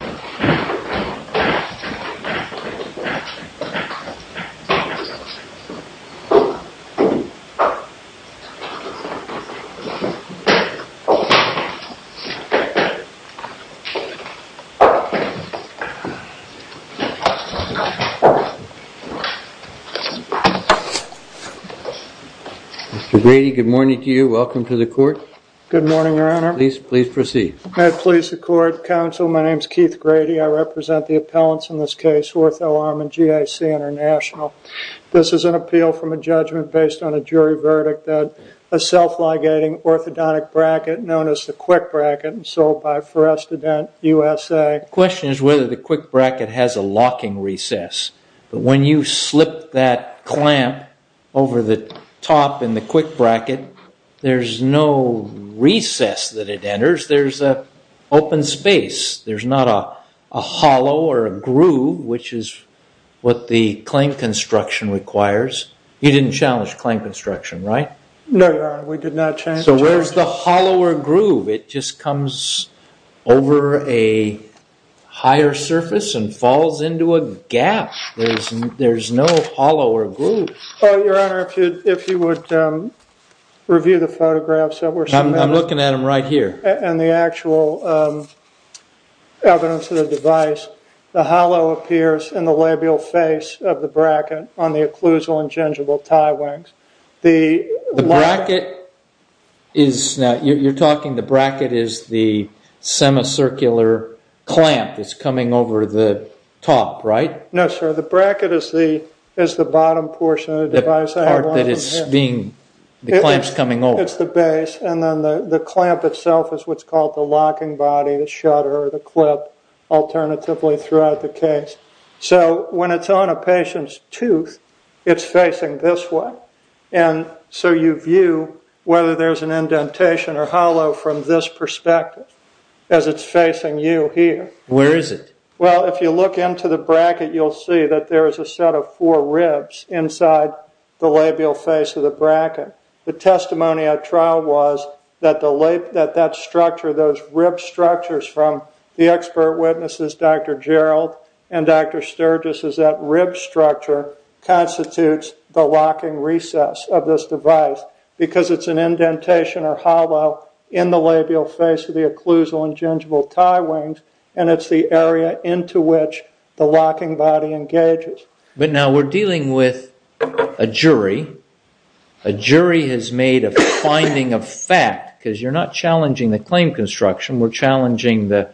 Mr. Brady, good morning to you. Welcome to the court. Good morning, your honor. Please proceed. At police accord, counsel, my name is Keith Brady. I represent the appellants in this case Orthoarm and GIC International. This is an appeal from a judgment based on a jury verdict that a self-ligating orthodontic bracket known as the Quick Bracket and sold by Forestadent USA. The question is whether the Quick Bracket has a locking recess. When you slip that clamp top in the Quick Bracket, there's no recess that it enters. There's an open space. There's not a hollow or a groove, which is what the claim construction requires. You didn't challenge claim construction, right? No, your honor. We did not challenge. So where's the hollow or groove? It just comes over a higher surface and falls into a gap. There's no hollow or groove. Your honor, if you would review the photographs that were submitted. I'm looking at them right here. And the actual evidence of the device, the hollow appears in the labial face of the bracket on the occlusal and gingival tie wings. The bracket is, you're talking the bracket is the semicircular clamp that's coming over the top, right? No, sir. The bracket is the bottom portion of the device. The part that is being, the clamp's coming over. It's the base. And then the clamp itself is what's called the locking body, the shutter or the clip, alternatively throughout the case. So when it's on a patient's tooth, it's facing this way. And so you view whether there's an indentation or hollow from this perspective as it's facing you here. Where is it? Well, if you look into the bracket, you'll see that there is a set of four ribs inside the labial face of the bracket. The testimony at trial was that that structure, those rib structures from the expert witnesses, Dr. Gerald and Dr. Sturgis, is that rib structure constitutes the locking recess of this device because it's an indentation or hollow in the labial face of the occlusal and gingival tie joints. And it's the area into which the locking body engages. But now we're dealing with a jury. A jury has made a finding of fact, because you're not challenging the claim construction. We're challenging the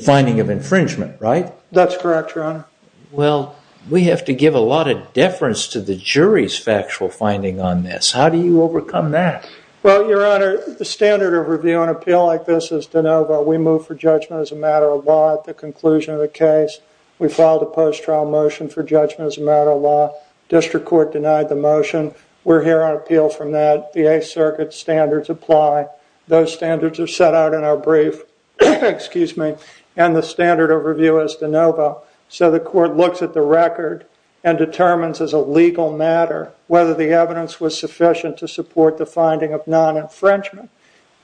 finding of infringement, right? That's correct, Your Honor. Well, we have to give a lot of deference to the jury's factual finding on this. How do you overcome that? Well, Your Honor, the standard of review on appeal like this is de novo. We move for judgment as a matter of law at the conclusion of the case. We filed a post-trial motion for judgment as a matter of law. District Court denied the motion. We're here on appeal from that. The Eighth Circuit standards apply. Those standards are set out in our brief. And the standard of review is de novo. So the court looks at the record and determines as a legal matter whether the evidence was sufficient to support the finding of non-infringement.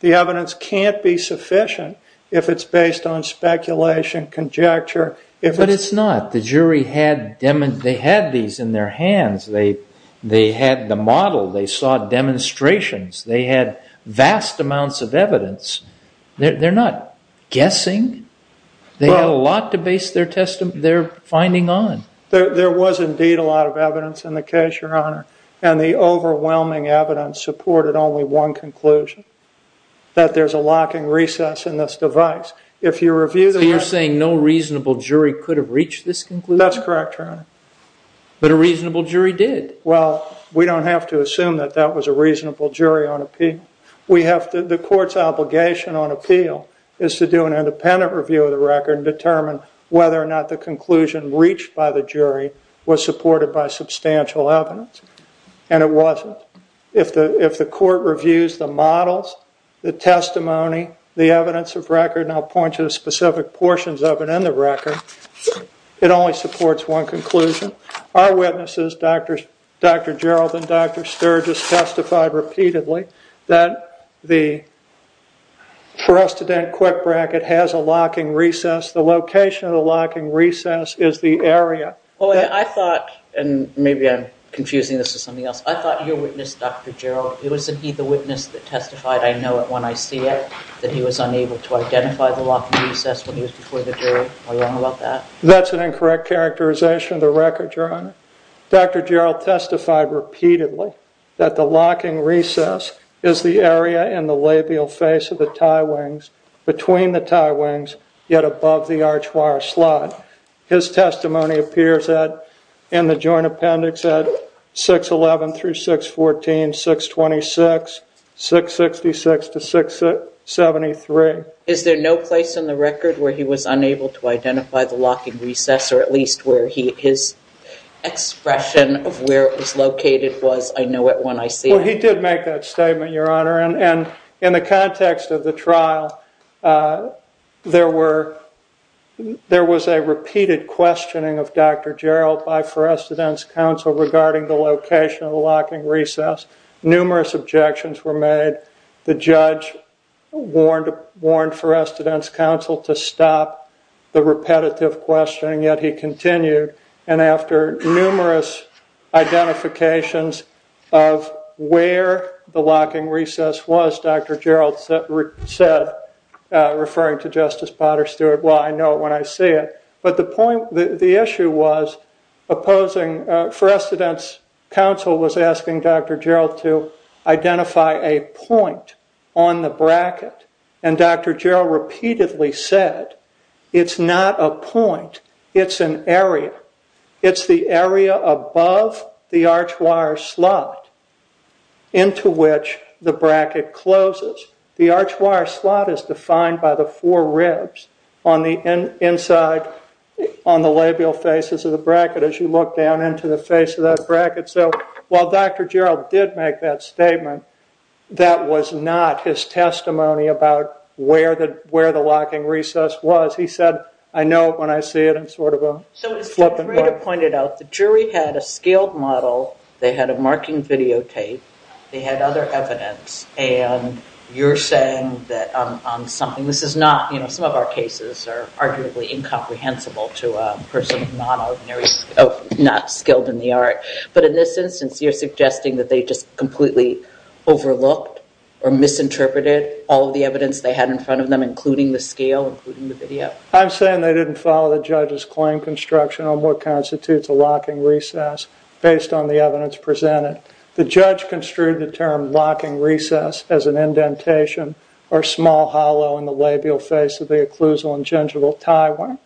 The evidence can't be sufficient if it's based on speculation, conjecture. But it's not. The jury had these in their hands. They had the model. They saw demonstrations. They had vast amounts of evidence. They're not guessing. They had a lot to base their finding on. There was, indeed, a lot of evidence in the case, Your Honor. And the overwhelming evidence supported only one conclusion, that there's a locking recess in this device. If you review the record... So you're saying no reasonable jury could have reached this conclusion? That's correct, Your Honor. But a reasonable jury did. Well, we don't have to assume that that was a reasonable jury on appeal. The court's obligation on appeal is to do an independent review of the record and determine whether or not the jury was supported by substantial evidence. And it wasn't. If the court reviews the models, the testimony, the evidence of record, and I'll point you to specific portions of it in the record, it only supports one conclusion. Our witnesses, Dr. Gerald and Dr. Sturgis, testified repeatedly that the trusted-in quick bracket has a locking recess. The location of the locking recess is the area... I thought, and maybe I'm confusing this with something else, I thought your witness, Dr. Gerald, wasn't he the witness that testified, I know it when I see it, that he was unable to identify the locking recess when he was before the jury? Are you wrong about that? That's an incorrect characterization of the record, Your Honor. Dr. Gerald testified repeatedly that the locking recess is the area in the labial face of the tie wings, between the tie wings, yet above the archwire slot. His testimony appears in the joint appendix at 611 through 614, 626, 666 to 673. Is there no place in the record where he was unable to identify the locking recess or at least I know it when I see it? Well, he did make that statement, Your Honor, and in the context of the trial, there were, there was a repeated questioning of Dr. Gerald by Forestidence Council regarding the location of the locking recess. Numerous objections were made. The judge warned Forestidence Council to stop the repetitive questioning, yet he continued, and after numerous identifications, of where the locking recess was, Dr. Gerald said, referring to Justice Potter Stewart, well, I know it when I see it, but the point, the issue was opposing, Forestidence Council was asking Dr. Gerald to identify a point on the bracket, and Dr. Gerald repeatedly said it's not a point, it's an area. It's the area above the archwire slot. Into which the bracket closes. The archwire slot is defined by the four ribs on the inside on the labial faces of the bracket as you look down into the face of that bracket, so while Dr. Gerald did make that statement, that was not his testimony about where the locking recess was. He said, I know it when I see it, and sort of a flip and go. As I pointed out, the jury had a scaled model, they had a marking videotape, they had other evidence, and you're saying that on something, this is not, you know, some of our cases are arguably incomprehensible to a person of non-ordinary, not skilled in the art, but in this instance you're suggesting that they just completely overlooked or misinterpreted all of the evidence they had in front of them, including the scale, including the video. I'm saying they didn't follow the judge's claim construction on what constitutes a locking recess based on the evidence presented. The judge construed the term locking recess as an indentation or small hollow in the labial face of the occlusal and gingival tie wire.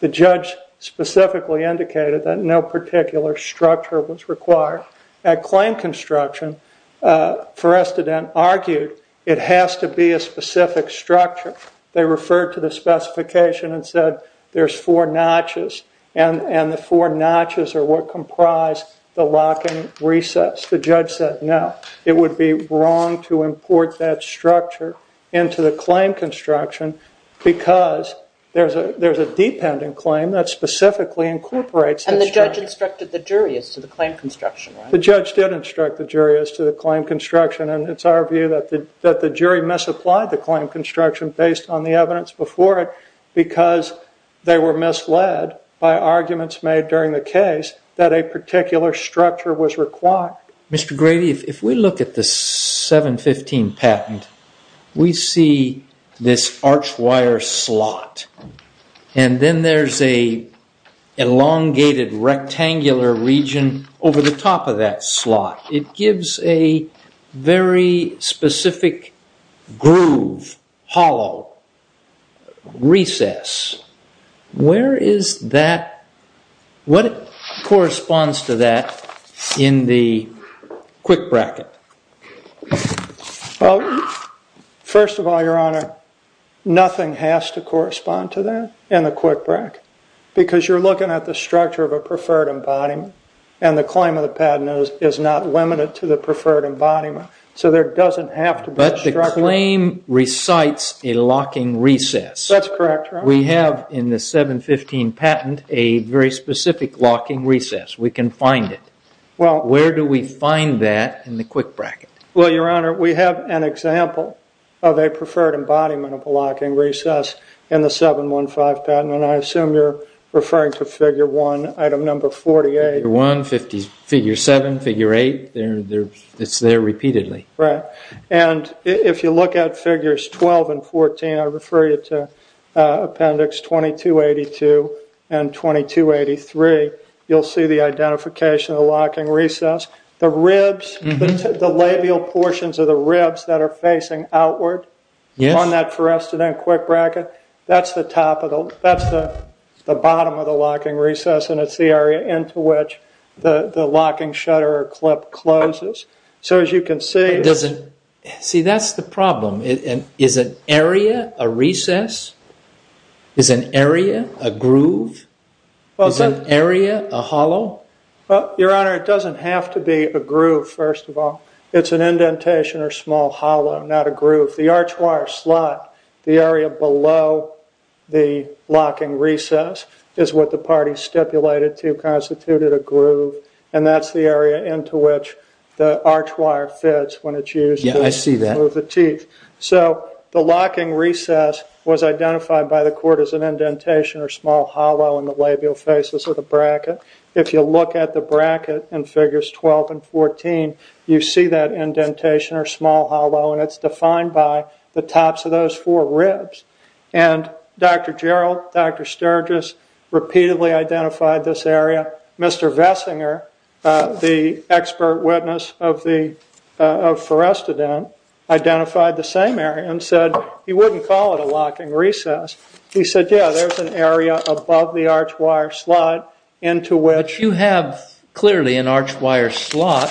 The judge specifically indicated that no particular structure was required. At claim construction, Forrestodent argued it has to be a specific structure. They referred to the specification and said there's four notches, and the four notches are what comprise the locking recess. The judge said no, it would be wrong to import that structure into the claim construction because there's a dependent claim that specifically incorporates that structure. And the judge instructed the jury as to the claim construction, right? The judge did instruct the jury as to the claim construction, and it's our view that the jury misapplied the claim construction based on the evidence before it because they were misled by arguments made during the case that a particular structure was required. Mr. Grady, if we look at the 715 patent, we see this arched wire slot, and then there's an elongated rectangular region over the top of that slot. It gives a very specific groove, hollow, recess. Where is that? What corresponds to that in the quick bracket? Well, first of all, Your Honor, nothing has to correspond to that in the quick bracket because you're looking at the structure of a preferred embodiment, and the claim of the patent is not limited to the preferred embodiment, so there doesn't have to be a structure. But the claim recites a locking recess. That's correct, Your Honor. We have in the 715 patent a very specific locking recess. We can find it. Where do we find that in the quick bracket? Well, Your Honor, we have an example of a preferred embodiment of a locking recess in the 715 patent, and I assume you're referring to figure 1, item number 48. Figure 1, figure 7, figure 8. It's there repeatedly. Right. And if you look at figures 12 and 14, I refer you to appendix 2282 and 2283, you'll see the identification of the locking recess. The ribs, the labial portions of the ribs that are facing outward on that forested end quick bracket, that's the bottom of the locking recess, and it's the area into which the locking shutter or clip closes. So as you can see... See that's the problem. Is an area a recess? Is an area a groove? Is an area a hollow recess? Well, Your Honor, it doesn't have to be a groove, first of all. It's an indentation or small hollow, not a groove. The arch wire slot, the area below the locking recess is what the party stipulated to constitute a groove, and that's the area into which the arch wire fits when it's used to... Yeah, I see that. So the locking recess was identified by the court as an indentation or small hollow in the labial faces of the bracket. If you look at the bracket in figures 12 and 14, you see that indentation or small hollow, and it's defined by the tops of those four ribs. And Dr. Gerald, Dr. Sturgis repeatedly identified this area. Mr. Vessinger, the expert witness of the forested end, identified the same area and said he wouldn't call it a locking recess. He said, yeah, there's an area above the arch wire slot into which... You have clearly an arch wire slot,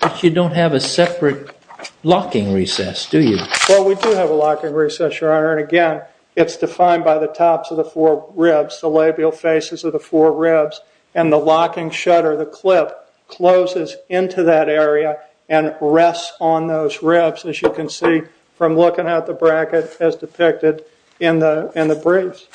but you don't have a separate locking recess, do you? Well, we do have a locking recess, Your Honor, and again, it's defined by the tops of the four ribs, the labial faces of the four ribs, and the locking shutter, the clip, closes into that area and rests on those ribs, as you can see from looking at the bracket as in the briefs.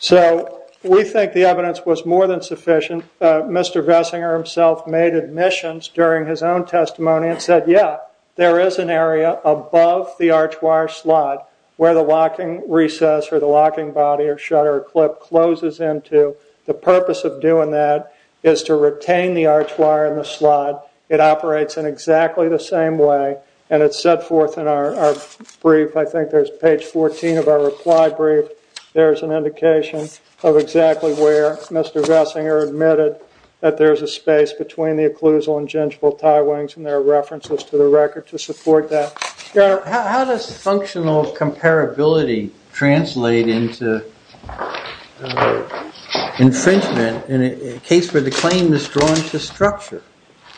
So we think the evidence was more than sufficient. Mr. Vessinger himself made admissions during his own testimony and said, yeah, there is an area above the arch wire slot where the locking recess or the locking body or shutter clip closes into. The purpose of doing that is to retain the arch wire in the slot. It operates in exactly the same way, and it's set forth in our brief. I think there's page 14 of our reply brief. There's an indication of exactly where Mr. Vessinger admitted that there's a space between the occlusal and gingival tie wings, and there are references to the record to support that. Your Honor, how does functional comparability translate into infringement in a case where the claim is drawn to structure?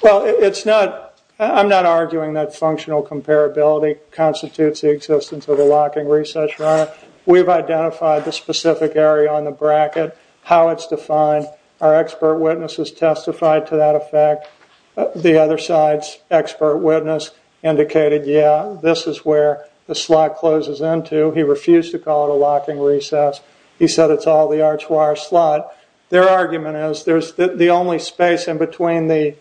Well, it's not, I'm not arguing that functional comparability constitutes the existence of a locking recess, Your Honor. We've identified the specific area on the bracket, how it's defined. Our expert witnesses testified to that effect. The other side's expert witness indicated, yeah, this is where the slot closes into. He refused to call it a locking recess. He said it's all the arch wire slot. Their argument is there's the only space in between the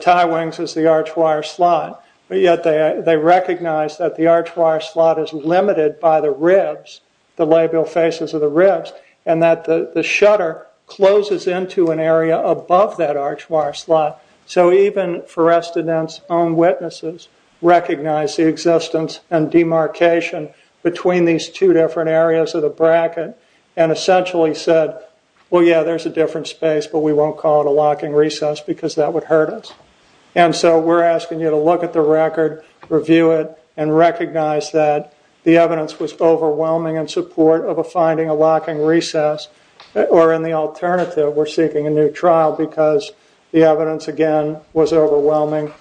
tie wings is the arch wire slot, but yet they recognize that the arch wire slot is limited by the ribs, the labial faces of the ribs, and that the shutter closes into an area above that arch wire slot. So even Forestident's own witnesses recognize the existence and the bracket, and essentially said, well, yeah, there's a different space, but we won't call it a locking recess because that would hurt us. And so we're asking you to look at the record, review it, and recognize that the evidence was overwhelming in support of a finding, a locking recess, or in the alternative, we're seeking a new trial because the evidence, again, was overwhelming,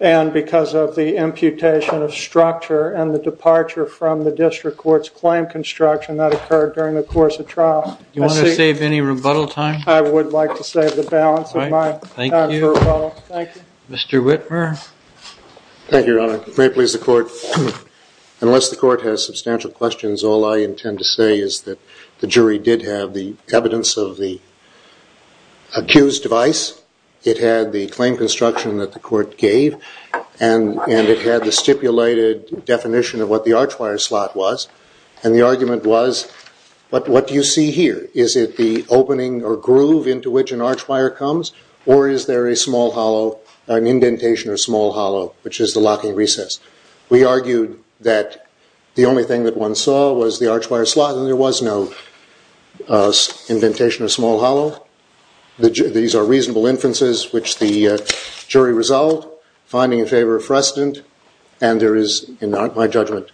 and because of the imputation of structure and the departure from the district court's claim construction that occurred during the course of trial. Do you want to save any rebuttal time? I would like to save the balance of my time for rebuttal. Thank you. Mr. Whitmer. Thank you, Your Honor. If it may please the court, unless the court has substantial questions, all I intend to say is that the jury did have the evidence of the accused device. It had the claim construction that the court gave, and it had the stipulated definition of what the archwire slot was, and the argument was, what do you see here? Is it the opening or groove into which an archwire comes, or is there a small hollow, an indentation or small hollow, which is the locking recess? We argued that the only thing that one saw was the archwire slot, and there was no indentation or small hollow. These are reasonable inferences which the jury resolved, finding in favor of precedent, and there is not my judgment,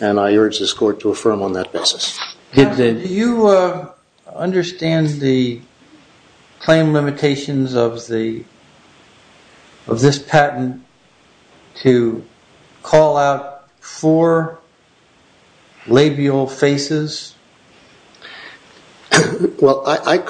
and I urge this court to affirm on that basis. Do you understand the claim limitations of this patent to call out four labial faces? Well, I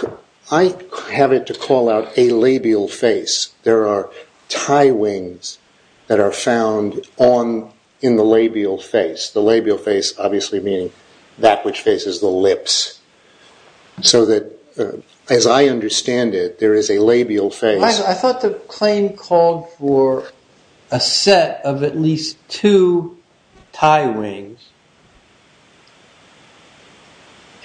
have it to call out a labial face. There are tie wings that are found in the labial face, the labial face obviously meaning that which faces the lips. So that, as I understand it, there is a labial face. I thought the claim called for a set of at rings,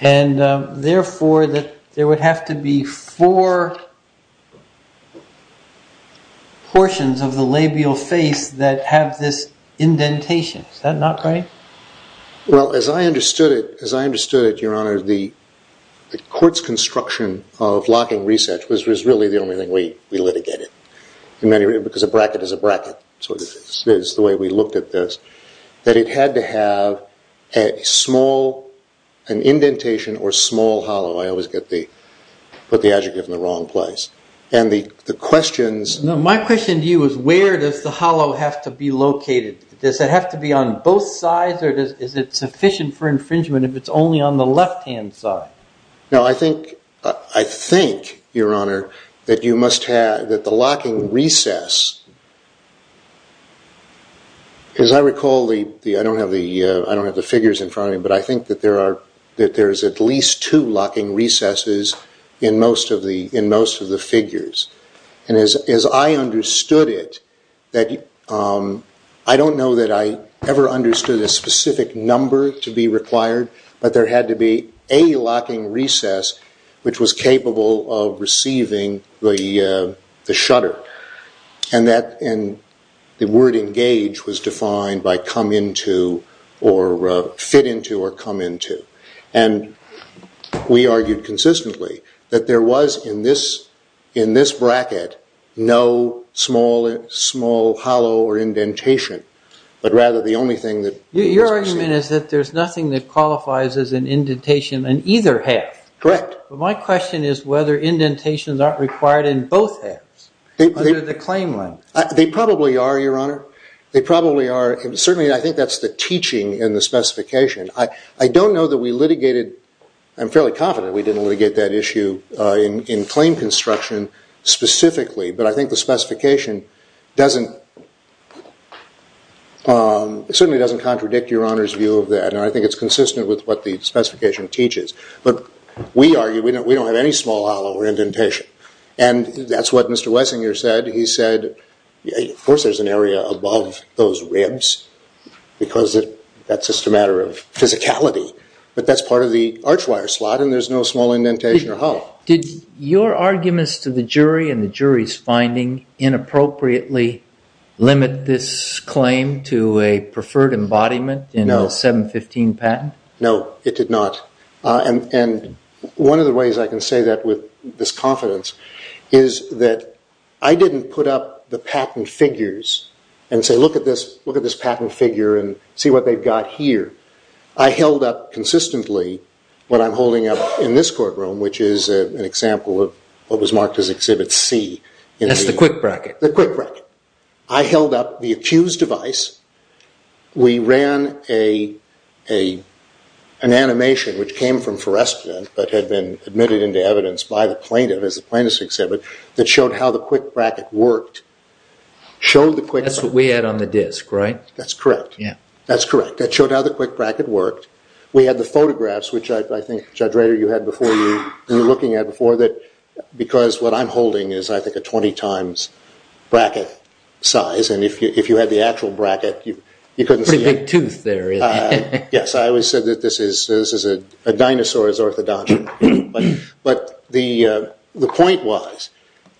and therefore there would have to be four portions of the labial face that have this indentation. Is that not right? Well, as I understood it, your honor, the court's construction of locking recess was really the only thing we litigated, because a bracket is a bracket, so it is the way we looked at this, that it had to have a small indentation or small hollow. I always put the adjective in the wrong place. My question to you is where does the hollow have to be located? Does it have to be on both sides, or is it sufficient for infringement if it's only on the left-hand side? No, I think, your honor, that the locking recess, as I recall, I don't have the figures in front of me, but I think that there is at least two locking recesses in most of the figures. As I understood it, I don't know that I ever understood a specific number to where there had to be a locking recess which was capable of receiving the shutter. The word engage was defined by come into or fit into or come into. We argued consistently that there was in this bracket no small hollow or indentation, but rather the only thing that was received. Your argument is that there's nothing that is an indentation in either half, but my question is whether indentations aren't required in both halves under the claim line. They probably are, your honor. They probably are. Certainly, I think that's the teaching in the specification. I don't know that we litigated, I'm fairly confident we didn't litigate that issue in claim construction specifically, but I think the specification certainly doesn't contradict your honor's view of that. I think it's consistent with what the specification teaches, but we argue we don't have any small hollow or indentation. That's what Mr. Wessinger said. He said, of course there's an area above those ribs because that's just a matter of physicality, but that's part of the arch wire slot and there's no small indentation or hollow. Did your arguments to the jury and the jury's finding inappropriately limit this claim to a preferred embodiment in a 715 patent? No, it did not. One of the ways I can say that with this confidence is that I didn't put up the patent figures and say, look at this patent figure and see what they've got here. I held up consistently what I'm holding up in this courtroom, which is an example of what was marked as Exhibit C. That's the quick bracket. The quick bracket. I held up the accused device. We ran an animation, which came from Foreskin, but had been admitted into evidence by the plaintiff as a plaintiff's exhibit that showed how the quick bracket worked. That's what we had on the disc, right? That's correct. That's correct. That showed how the quick bracket worked. We had the photographs, which I think, Judge Rader, you were looking at before, because what I'm holding is, I think, a 20 times bracket size. If you had the actual bracket, you couldn't see it. It's a big tooth there, isn't it? Yes. I always said that this is a dinosaur's orthodontic, but the point was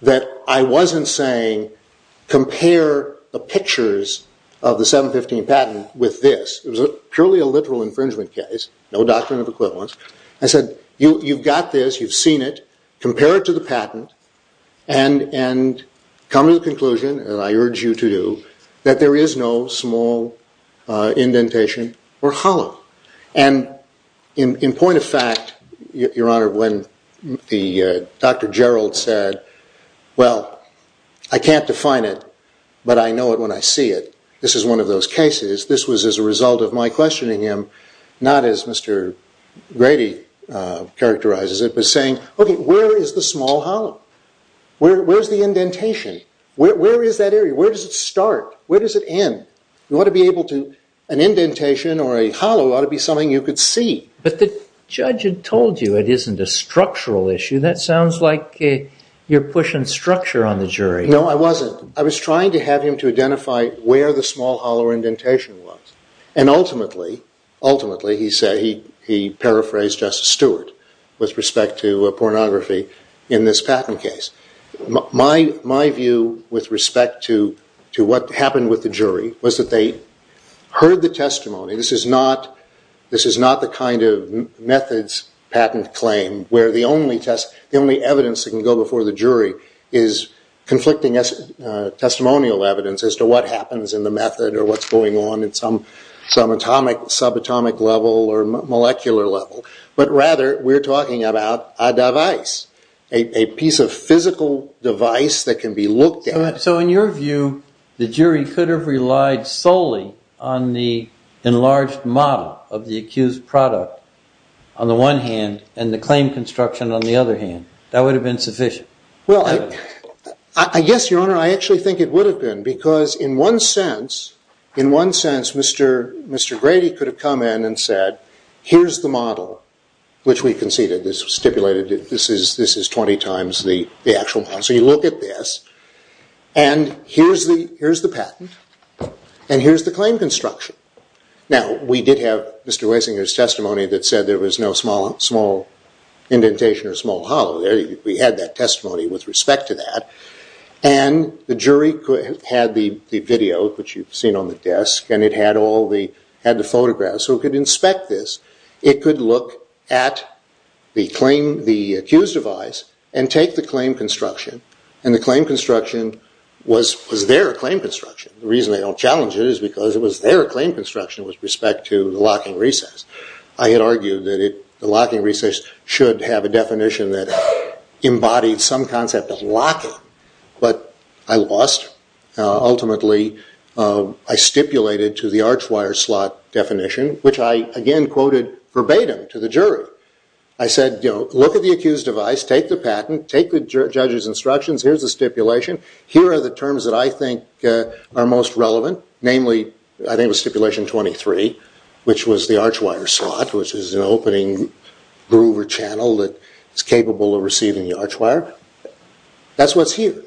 that I wasn't saying compare the pictures of the 715 patent with this. It was purely a literal infringement case, no doctrine of equivalence. I said, you've got this, you've seen it, compare it to the patent, and come to the conclusion, and I urge you to do, that there is no small indentation or hollow. In point of fact, Your Honor, when Dr. Gerald said, well, I can't define it, but I know it when I see it. This is one of those cases. This was as a result of my questioning him, not as Mr. Grady characterizes it, but saying, where is the small hollow? Where's the indentation? Where is that area? Where does it start? Where does it end? An indentation or a hollow ought to be something you could see. But the judge had told you it isn't a structural issue. That sounds like you're pushing structure on the jury. No, I wasn't. I was trying to have him to say what the indentation was. Ultimately, he paraphrased Justice Stewart with respect to pornography in this patent case. My view with respect to what happened with the jury was that they heard the testimony. This is not the kind of methods patent claim where the only evidence that can go before the jury is conflicting testimonial evidence as to what happens in the method or what's going on at some atomic, subatomic level or molecular level. But rather, we're talking about a device, a piece of physical device that can be looked at. So in your view, the jury could have relied solely on the enlarged model of the accused product on the one hand and the claim construction on the other hand. That would have been sufficient. Well, I guess, Your Honor, I actually think it would have been because in one sense, Mr. Grady could have come in and said, here's the model, which we conceded. This was stipulated. This is 20 times the actual model. So you look at this. And here's the patent. And here's the claim construction. Now, we did have Mr. Wasinger's testimony that said there was no small indentation or indentation. The jury had the video, which you've seen on the desk. And it had the photographs. So it could inspect this. It could look at the accused device and take the claim construction. And the claim construction was their claim construction. The reason they don't challenge it is because it was their claim construction with respect to the locking recess. I had argued that the locking recess should have a definition that embodied some concept of locking. But I lost. Ultimately, I stipulated to the archwire slot definition, which I again quoted verbatim to the jury. I said, look at the accused device. Take the patent. Take the judge's instructions. Here's the stipulation. Here are the terms that I think are most relevant, namely I think it was stipulation 23, which was the archwire slot, which is an opening groove or channel that is capable of receiving the archwire. That's what's here.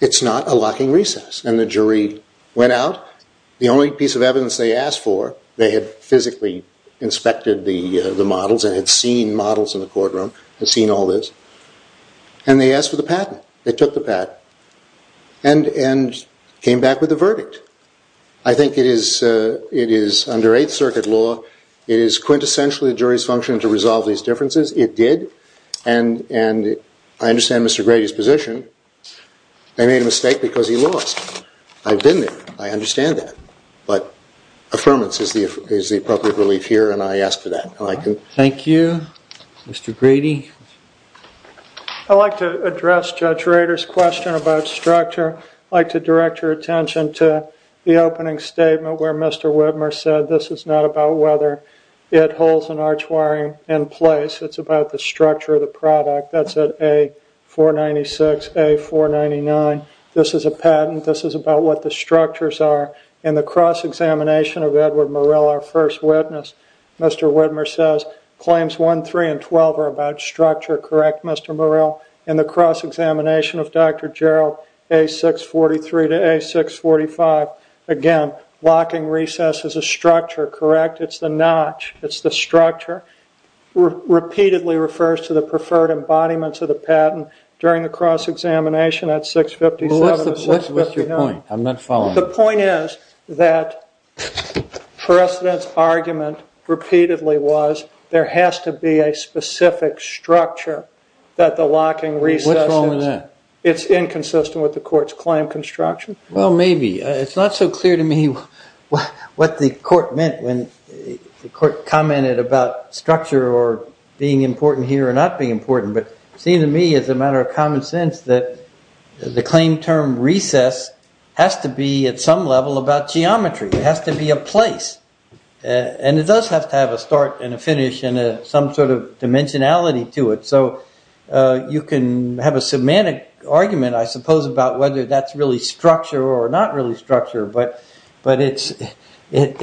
It's not a locking recess. And the jury went out. The only piece of evidence they asked for, they had physically inspected the models and had seen models in the courtroom, had seen all this. And they asked for the patent. They took the patent and came back with a verdict. I think it is under Eighth Circuit law. It is quintessentially the jury's function to resolve these differences. It did. And I understand Mr. Grady's position. I made a mistake because he lost. I've been there. I understand that. But affirmance is the appropriate relief here and I asked for that. Thank you. Mr. Grady. I'd like to address Judge Rader's question about structure. I'd like to direct your attention to the opening statement where Mr. Whitmer said this is not about whether it holds an archwiring in place. It's about the structure of the product. That's at A496, A499. This is a patent. This is about what the structures are. In the cross-examination of Edward Murrell, our first witness, Mr. Whitmer says claims 1, 3, and 12 are about structure. Correct, Mr. Murrell? In the cross-examination of Dr. Gerald, A643 to A645, again, locking recess is a structure. Correct? It's the notch. It's the structure. Repeatedly refers to the preferred embodiments of the patent during the cross-examination at 657 and 659. What's your point? I'm not following. The point is that precedent's argument repeatedly was there has to be a specific structure that the locking recess is. What's wrong with that? It's inconsistent with the court's claim construction. Well, maybe. It's not so clear to me what the court meant when the court commented about structure or being important here or not being important, but it seemed to me as a matter of common sense that the claim term recess has to be at some level about geometry. It has to be a place. It does have to have a start and a finish and some sort of dimensionality to it. You can have a semantic argument, I suppose, about whether that's really structure or not really structure, but it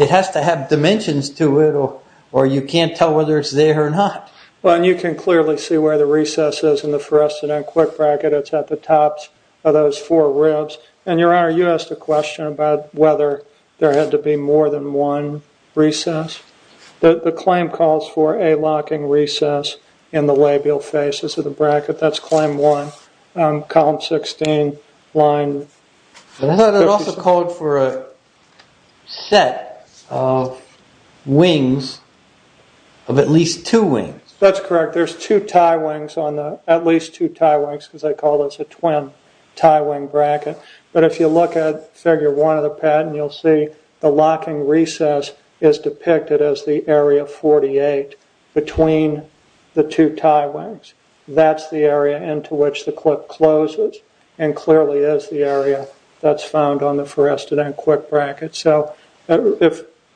has to have dimensions to it or you can't tell whether it's there or not. You can clearly see where the recess is in the precedent quick bracket. It's at the tops of those four ribs. Your Honor, you asked a question about whether there had to be more than one recess. The claim calls for a locking recess in the labial faces of the bracket. That's claim one, column 16, line 57. I thought it also called for a set of wings, of at least two wings. That's correct. There's two tie wings on the, at least two tie wings because they call this a twin tie wing bracket, but if you look at figure one of the patent, you'll see the locking recess is depicted as the area 48 between the two tie wings. That's the area into which the clip closes and clearly is the area that's found on the precedent quick bracket.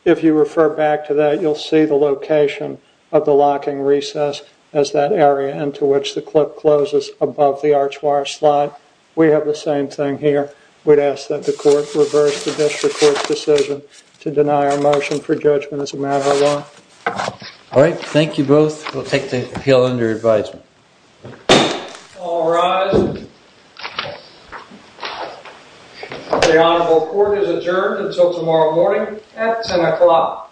If you refer back to that, you'll see the location of the locking recess as that area into which the clip closes above the arch wire slide. We have the same thing here. We'd ask that the court reverse the district court's decision to deny our motion for judgment as a matter of law. All right. Thank you both. We'll take the appeal under advisement. All rise. The honorable court is adjourned until tomorrow morning at 10 o'clock.